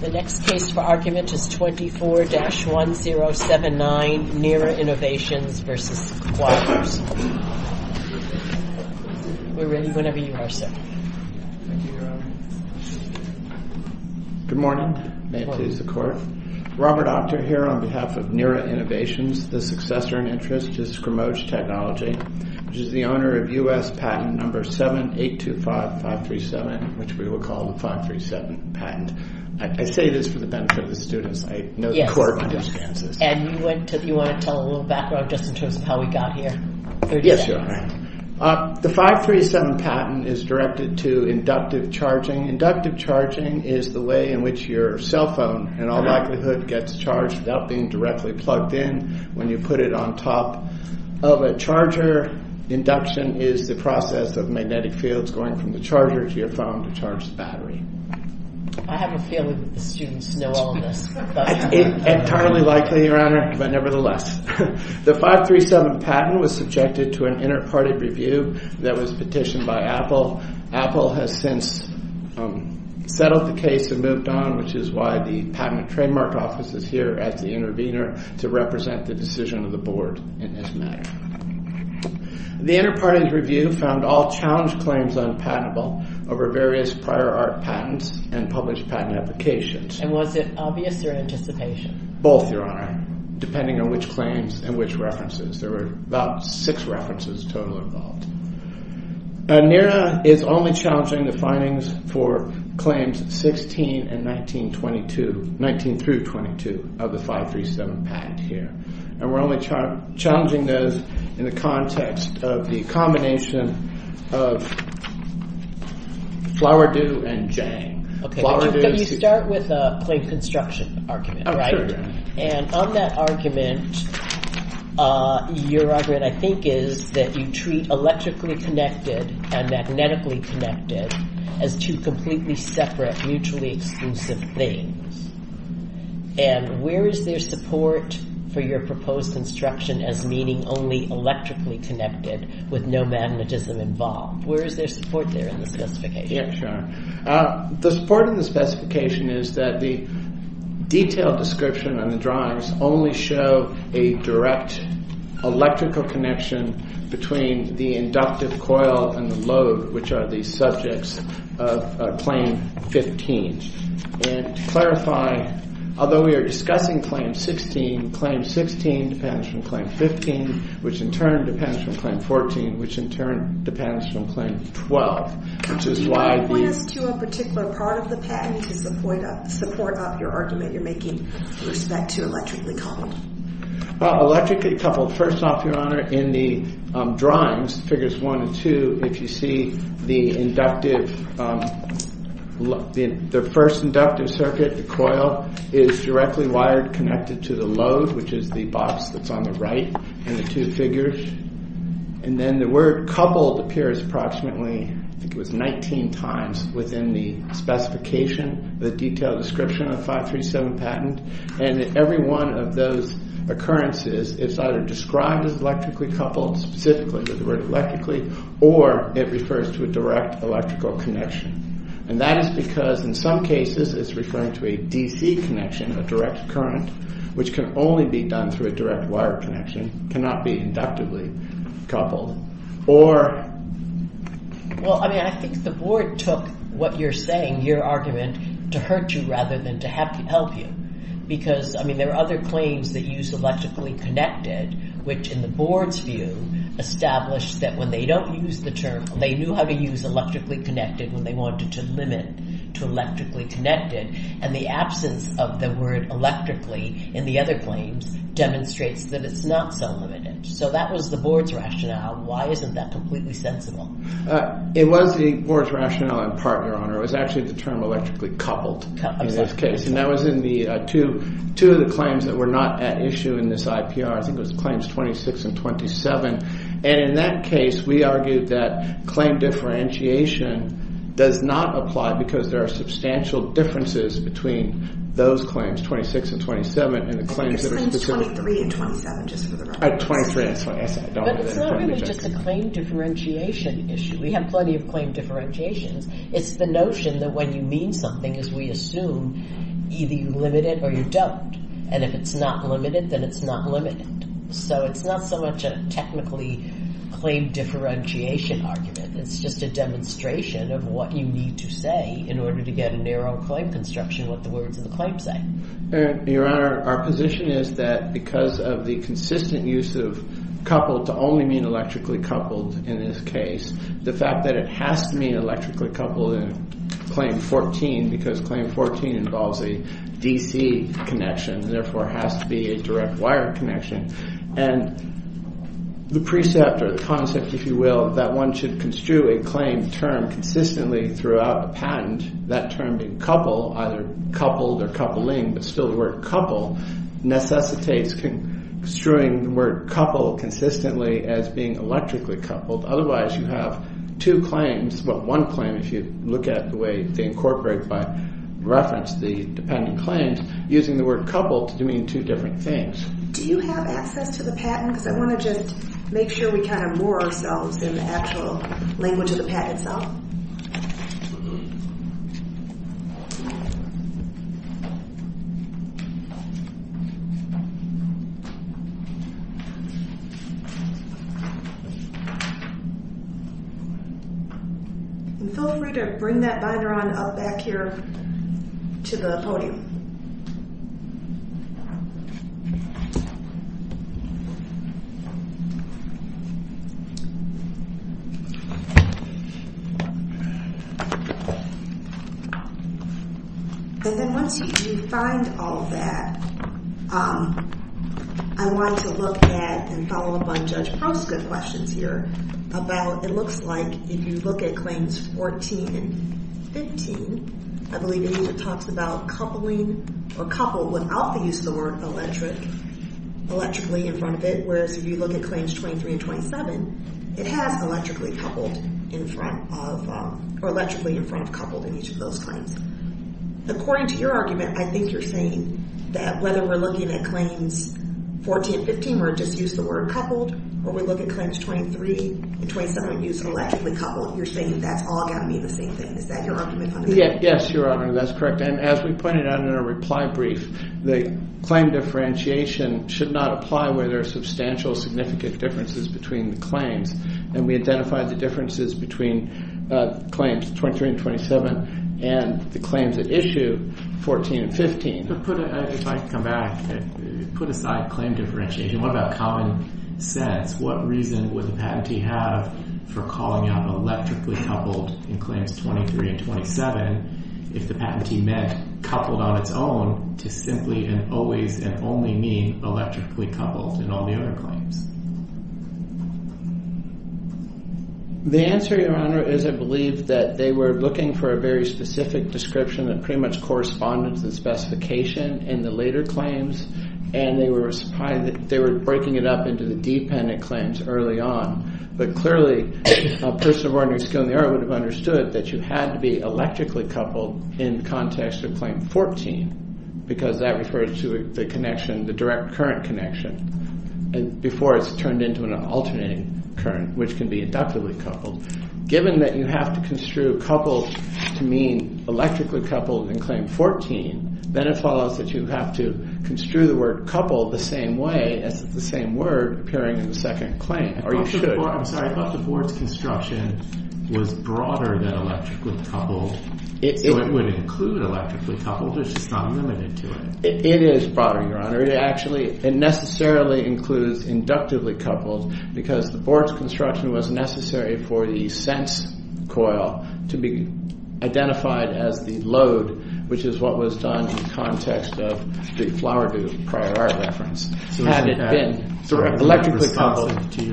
24-1079 Nera Innovations v. Squires Good morning. Robert Octor here on behalf of Nera Innovations, the successor in interest to Scrimoge Technology, which is the owner of U.S. patent number 7825537, which we will call the 537 patent. The 537 patent is directed to inductive charging. Inductive charging is the way in which your cell phone in all likelihood gets charged without being directly plugged in when you put it on top of a charger. Induction is the process of magnetic fields going from the charger to your phone to charge the battery. The 537 patent was subjected to an inter-party review that was petitioned by Apple. Apple has since settled the case and moved on, which is why the Patent and Trademark Office is here as the intervener to represent the decision of the Board in this matter. The inter-party review found all challenged claims unpatentable over various prior art patents and published patent applications. And was it obvious or anticipation? Both, Your Honor, depending on which claims and which references. There were about six references total involved. Nera is only challenging the findings for claims 16 and 19-22, 19-22 of the 537 patent here. And we're only challenging those in the context of the combination of Flowerdew and Jang. Can you start with the claim construction argument? And on that argument, your argument I think is that you treat electrically connected and magnetically connected as two completely separate, mutually exclusive things. And where is there support for your proposed construction as meaning only electrically connected with no magnetism involved? Where is there support there in the specification? The support in the specification is that the detailed description on the drawings only show a direct electrical connection between the inductive coil and the load, which are the subjects of Claim 15. And to clarify, although we are discussing Claim 16, Claim 16 depends from Claim 15, which in turn depends from Claim 14, which in turn depends from Claim 12, which is why the… Can you point us to a particular part of the patent to support up your argument you're making with respect to electrically coupled? Well, electrically coupled, first off, your honor, in the drawings, figures one and two, if you see the inductive… The first inductive circuit, the coil, is directly wired, connected to the load, which is the box that's on the right in the two figures. And then the word coupled appears approximately, I think it was 19 times within the specification, the detailed description of 537 patent. And every one of those occurrences is either described as electrically coupled, specifically with the word electrically, or it refers to a direct electrical connection. And that is because in some cases it's referring to a DC connection, a direct current, which can only be done through a direct wire connection, cannot be inductively coupled, or… Well, I mean, I think the board took what you're saying, your argument, to hurt you rather than to help you. Because, I mean, there are other claims that use electrically connected, which in the board's view established that when they don't use the term, they knew how to use electrically connected when they wanted to limit to electrically connected. And the absence of the word electrically in the other claims demonstrates that it's not so limited. So that was the board's rationale. Why isn't that completely sensible? It was the board's rationale in part, Your Honor. It was actually the term electrically coupled in this case. And that was in the two of the claims that were not at issue in this IPR. I think it was Claims 26 and 27. And in that case, we argued that claim differentiation does not apply because there are substantial differences between those claims, 26 and 27, and the claims… I think it's Claims 23 and 27, just for the record. But it's not really just a claim differentiation issue. We have plenty of claim differentiations. It's the notion that when you mean something, as we assume, either you limit it or you don't. And if it's not limited, then it's not limited. So it's not so much a technically claim differentiation argument. It's just a demonstration of what you need to say in order to get a narrow claim construction, what the words of the claim say. Your Honor, our position is that because of the consistent use of coupled to only mean electrically coupled in this case, the fact that it has to mean electrically coupled in Claim 14 because Claim 14 involves a DC connection, therefore has to be a direct wire connection. And the precept or the concept, if you will, that one should construe a claim term consistently throughout a patent, that term being coupled, either coupled or coupling, but still the word couple, necessitates construing the word couple consistently as being electrically coupled. Otherwise, you have two claims, but one claim, if you look at the way they incorporate by reference the dependent claims, using the word coupled to mean two different things. Do you have access to the patent? Because I want to just make sure we kind of moor ourselves in the actual language of the patent itself. And feel free to bring that binder on up back here to the podium. And then once you find all of that, I want to look at and follow up on Judge Prost's good questions here about it looks like if you look at Claims 14 and 15, I believe it talks about coupling or coupled without the use of the word electric, electrically in front of it. Whereas if you look at Claims 23 and 27, it has electrically coupled in front of or electrically in front of coupled in each of those claims. According to your argument, I think you're saying that whether we're looking at Claims 14, 15, or just use the word coupled, or we look at Claims 23 and 27 and use electrically coupled, you're saying that's all going to mean the same thing. Is that your argument? Yes, Your Honor, that's correct. And as we pointed out in our reply brief, the claim differentiation should not apply where there are substantial significant differences between the claims. And we identified the differences between Claims 23 and 27 and the claims at issue 14 and 15. If I could come back, put aside claim differentiation, what about common sense? What reason would the patentee have for calling out electrically coupled in Claims 23 and 27 if the patentee meant coupled on its own to simply and always and only mean electrically coupled in all the other claims? The answer, Your Honor, is I believe that they were looking for a very specific description of pretty much correspondence and specification in the later claims. And they were breaking it up into the dependent claims early on. But clearly, a person of ordinary skill in the area would have understood that you had to be electrically coupled in context of Claim 14 because that refers to the connection, the direct current connection. And before it's turned into an alternating current, which can be inductively coupled. Given that you have to construe coupled to mean electrically coupled in Claim 14, then it follows that you have to construe the word coupled the same way as the same word appearing in the second claim. Or you should. I'm sorry, I thought the board's construction was broader than electrically coupled. So it would include electrically coupled. It's just not limited to it. It is broader, Your Honor. It actually, it necessarily includes inductively coupled because the board's construction was necessary for the sense coil to be identified as the load, which is what was done in context of the Flower Booth prior art reference. Had it been electrically coupled. So it's not responsive to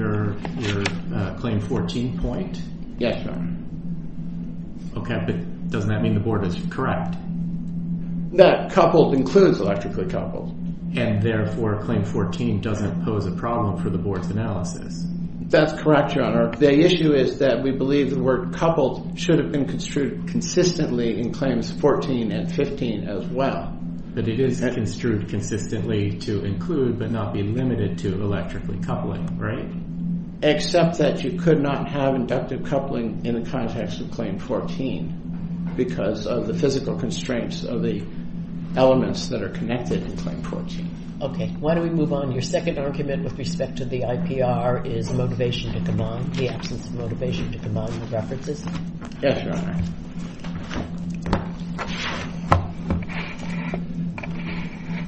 your Claim 14 point? Yes, Your Honor. Okay, but doesn't that mean the board is correct? That coupled includes electrically coupled. And therefore, Claim 14 doesn't pose a problem for the board's analysis. That's correct, Your Honor. The issue is that we believe the word coupled should have been construed consistently in Claims 14 and 15 as well. But it is construed consistently to include but not be limited to electrically coupling, right? Except that you could not have inductive coupling in the context of Claim 14 because of the physical constraints of the elements that are connected in Claim 14. Okay. Why don't we move on? Your second argument with respect to the IPR is motivation to command, the absence of motivation to command references. Yes, Your Honor.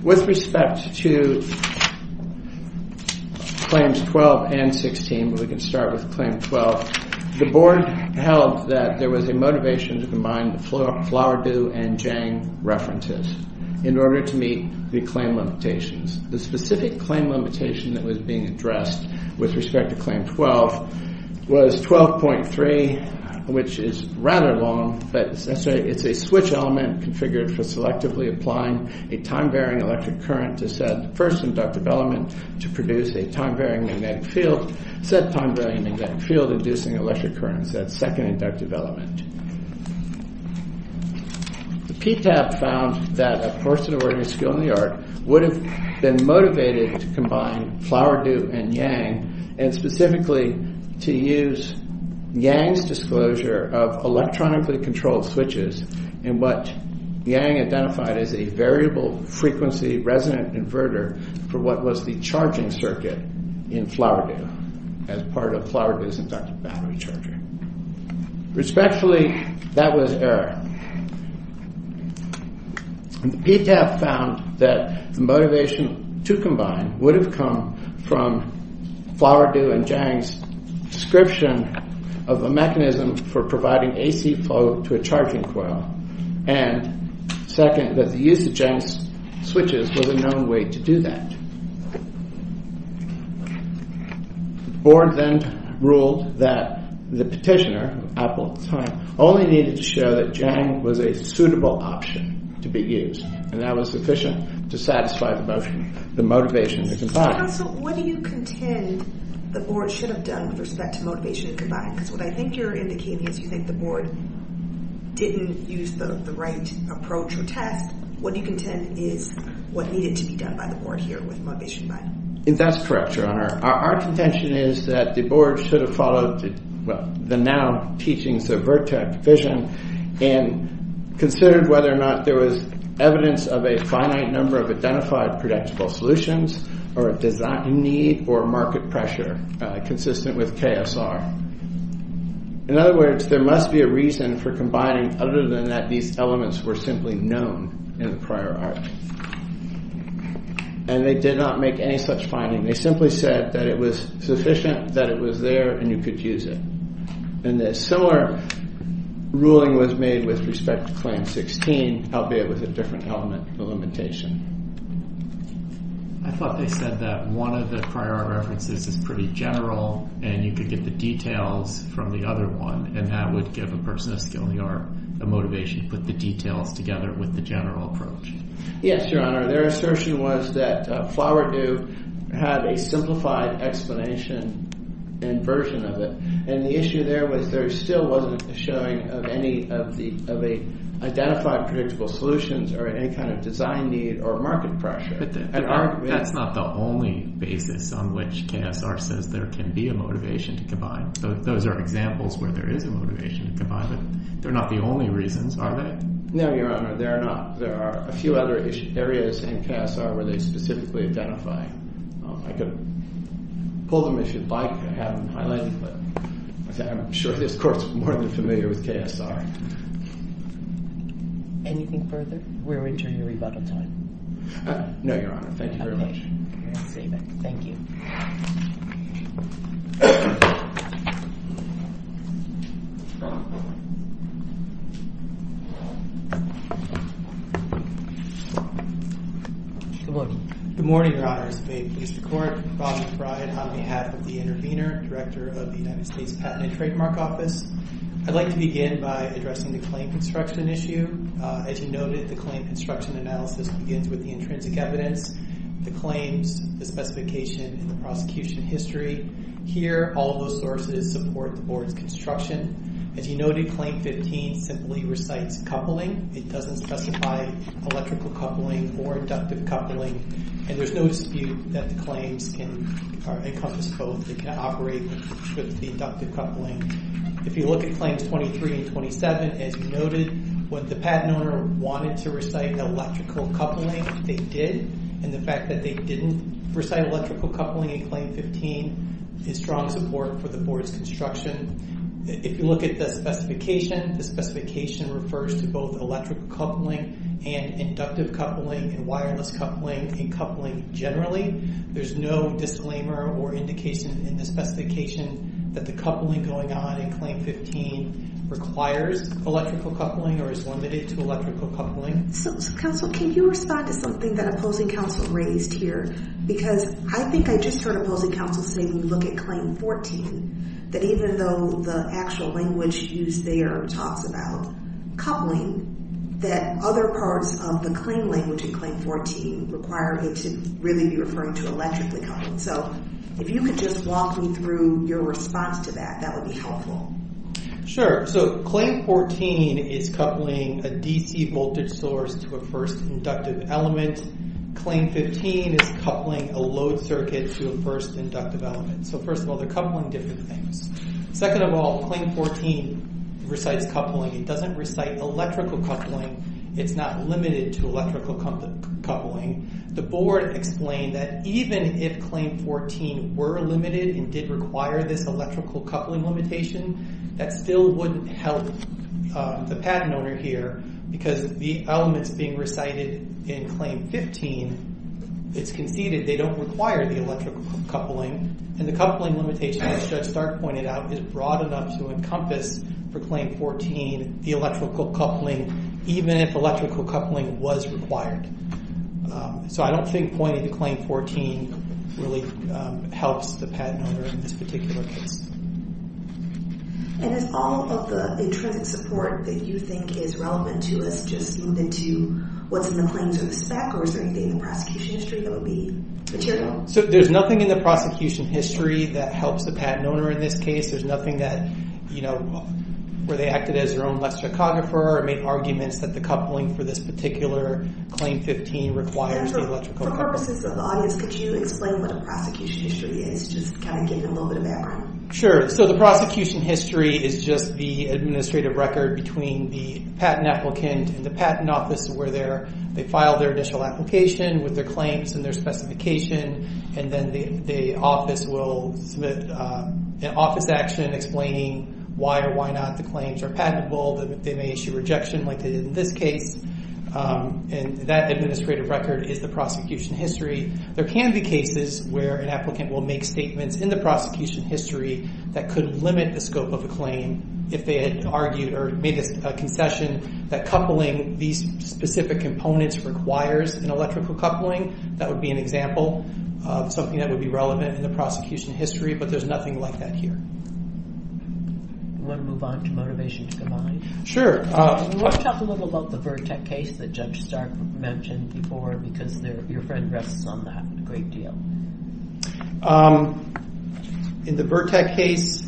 With respect to Claims 12 and 16, we can start with Claim 12. The board held that there was a motivation to combine the Flower Do and Jang references in order to meet the claim limitations. The specific claim limitation that was being addressed with respect to Claim 12 was 12.3, which is rather long. But it's a switch element configured for selectively applying a time-varying electric current to said first inductive element to produce a time-varying magnetic field. Said time-varying magnetic field inducing electric current in said second inductive element. The PTAP found that a person of ordinary skill in the art would have been motivated to combine Flower Do and Jang and specifically to use Jang's disclosure of electronically controlled switches in what Jang identified as a variable frequency resonant inverter for what was the charging circuit in Flower Do as part of Flower Do's inductive battery charger. Respectfully, that was error. The PTAP found that the motivation to combine would have come from Flower Do and Jang's description of a mechanism for providing AC flow to a charging coil and second, that the use of Jang's switches was a known way to do that. The board then ruled that the petitioner, Apple Time, only needed to show that Jang was a suitable option to be used and that was sufficient to satisfy the motivation to combine. Counsel, what do you contend the board should have done with respect to motivation to combine? Because what I think you're indicating is you think the board didn't use the right approach or test. What do you contend is what needed to be done by the board here with motivation to combine? That's correct, Your Honor. Our contention is that the board should have followed the now teachings of Vertex Vision and considered whether or not there was evidence of a finite number of identified predictable solutions or a design need or market pressure consistent with KSR. In other words, there must be a reason for combining other than that these elements were simply known in the prior art. And they did not make any such finding. They simply said that it was sufficient, that it was there, and you could use it. And a similar ruling was made with respect to Claim 16, albeit with a different element of limitation. I thought they said that one of the prior art references is pretty general and you could get the details from the other one and that would give a person of skill in the art a motivation to put the details together with the general approach. Yes, Your Honor. Their assertion was that Flower Dew had a simplified explanation and version of it. And the issue there was there still wasn't a showing of any of the identified predictable solutions or any kind of design need or market pressure. But that's not the only basis on which KSR says there can be a motivation to combine. Those are examples where there is a motivation to combine, but they're not the only reasons, are they? No, Your Honor. There are a few other areas in KSR where they specifically identify. I could pull them if you'd like. I haven't highlighted them, but I'm sure this Court is more than familiar with KSR. Anything further? We're entering a rebuttal time. No, Your Honor. Thank you very much. Thank you. Good morning. Good morning, Your Honors. May it please the Court. Robin Frye on behalf of the Intervenor, Director of the United States Patent and Trademark Office. I'd like to begin by addressing the claim construction issue. As you noted, the claim construction analysis begins with the intrinsic evidence, the claims, the specification, and the prosecution history. Here, all of those sources support the Board's construction. As you noted, Claim 15 simply recites coupling. It doesn't specify electrical coupling or inductive coupling. And there's no dispute that the claims encompass both. It can operate with the inductive coupling. If you look at Claims 23 and 27, as you noted, when the patent owner wanted to recite electrical coupling, they did. And the fact that they didn't recite electrical coupling in Claim 15 is strong support for the Board's construction. If you look at the specification, the specification refers to both electrical coupling and inductive coupling and wireless coupling and coupling generally. There's no disclaimer or indication in the specification that the coupling going on in Claim 15 requires electrical coupling or is limited to electrical coupling. So, Counsel, can you respond to something that opposing counsel raised here? Because I think I just heard opposing counsel say when you look at Claim 14, that even though the actual language used there talks about coupling, that other parts of the claim language in Claim 14 require it to really be referring to electrically coupling. So, if you could just walk me through your response to that, that would be helpful. Sure. So, Claim 14 is coupling a DC voltage source to a first inductive element. Claim 15 is coupling a load circuit to a first inductive element. So, first of all, they're coupling different things. Second of all, Claim 14 recites coupling. It doesn't recite electrical coupling. It's not limited to electrical coupling. The Board explained that even if Claim 14 were limited and did require this electrical coupling limitation, that still wouldn't help the patent owner here because the elements being recited in Claim 15, it's conceded they don't require the electrical coupling. And the coupling limitation, as Judge Stark pointed out, is broad enough to encompass for Claim 14 the electrical coupling, even if electrical coupling was required. So, I don't think pointing to Claim 14 really helps the patent owner in this particular case. And is all of the intrinsic support that you think is relevant to us just moved into what's in the claims or the spec, or is there anything in the prosecution history that would be material? So, there's nothing in the prosecution history that helps the patent owner in this case. There's nothing that, you know, where they acted as their own electrochographer or made arguments that the coupling for this particular Claim 15 requires the electrical coupling. For purposes of the audience, could you explain what the prosecution history is? Just kind of give you a little bit of background. Sure. So, the prosecution history is just the administrative record between the patent applicant and the patent office where they filed their initial application with their claims and their specification. And then the office will submit an office action explaining why or why not the claims are patentable. They may issue rejection like they did in this case. And that administrative record is the prosecution history. There can be cases where an applicant will make statements in the prosecution history that could limit the scope of a claim if they had argued or made a concession that coupling these specific components requires an electrical coupling. That would be an example of something that would be relevant in the prosecution history, but there's nothing like that here. Do you want to move on to Motivation to Combine? Sure. Do you want to talk a little about the Vertec case that Judge Stark mentioned before because your friend rests on that a great deal? In the Vertec case?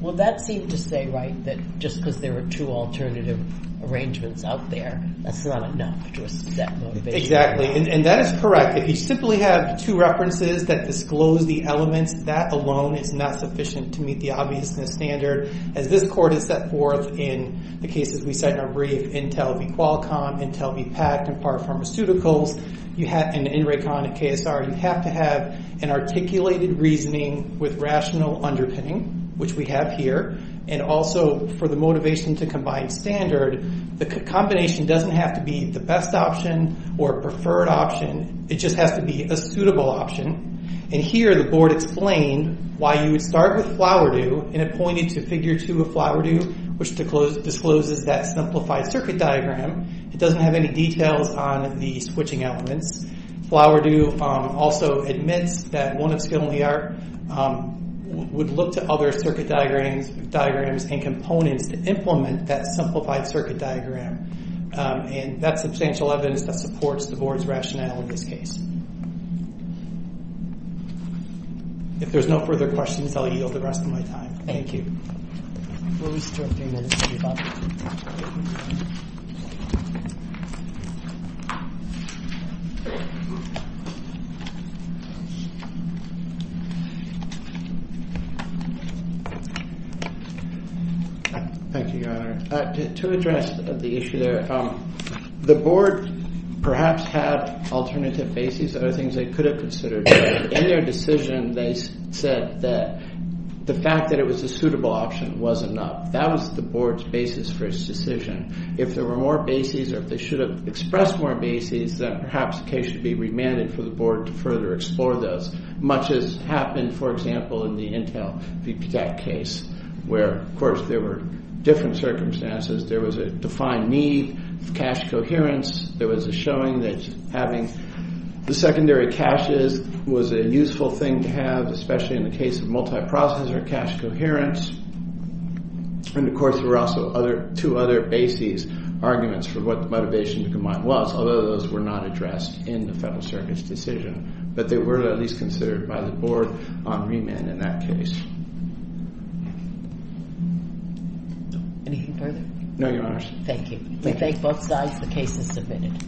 Well, that seemed to say, right, that just because there were two alternative arrangements out there, that's not enough to assess motivation. Exactly. And that is correct. If you simply have two references that disclose the elements, that alone is not sufficient to meet the obviousness standard. As this court has set forth in the cases we cite in our brief, Intel v. Qualcomm, Intel v. Pact, and Parr Pharmaceuticals, and in Raycon and KSR, you have to have an articulated reasoning with rational underpinning, which we have here, and also for the Motivation to Combine standard, the combination doesn't have to be the best option or preferred option. It just has to be a suitable option. And here the board explained why you would start with Flowerdew and it pointed to Figure 2 of Flowerdew, which discloses that simplified circuit diagram. It doesn't have any details on the switching elements. Flowerdew also admits that one of Skill and Liar would look to other circuit diagrams and components to implement that simplified circuit diagram. And that's substantial evidence that supports the board's rationale in this case. If there's no further questions, I'll yield the rest of my time. Thank you. Thank you. Thank you, Your Honor. To address the issue there, the board perhaps had alternative bases that are things they could have considered. In their decision, they said that the fact that it was a suitable option was enough. That was the board's basis for its decision. If there were more bases, or if they should have expressed more bases, then perhaps the case should be remanded for the board to further explore those. Much has happened, for example, in the Intel VPTAC case, where, of course, there were different circumstances. There was a defined need of cache coherence. There was a showing that having the secondary caches was a useful thing to have, especially in the case of multiprocessor cache coherence. And, of course, there were also two other bases, arguments for what the motivation to combine was, although those were not addressed in the Federal Circuit's decision, but they were at least considered by the board on remand in that case. Anything further? No, Your Honors. Thank you. We thank both sides. The case is submitted.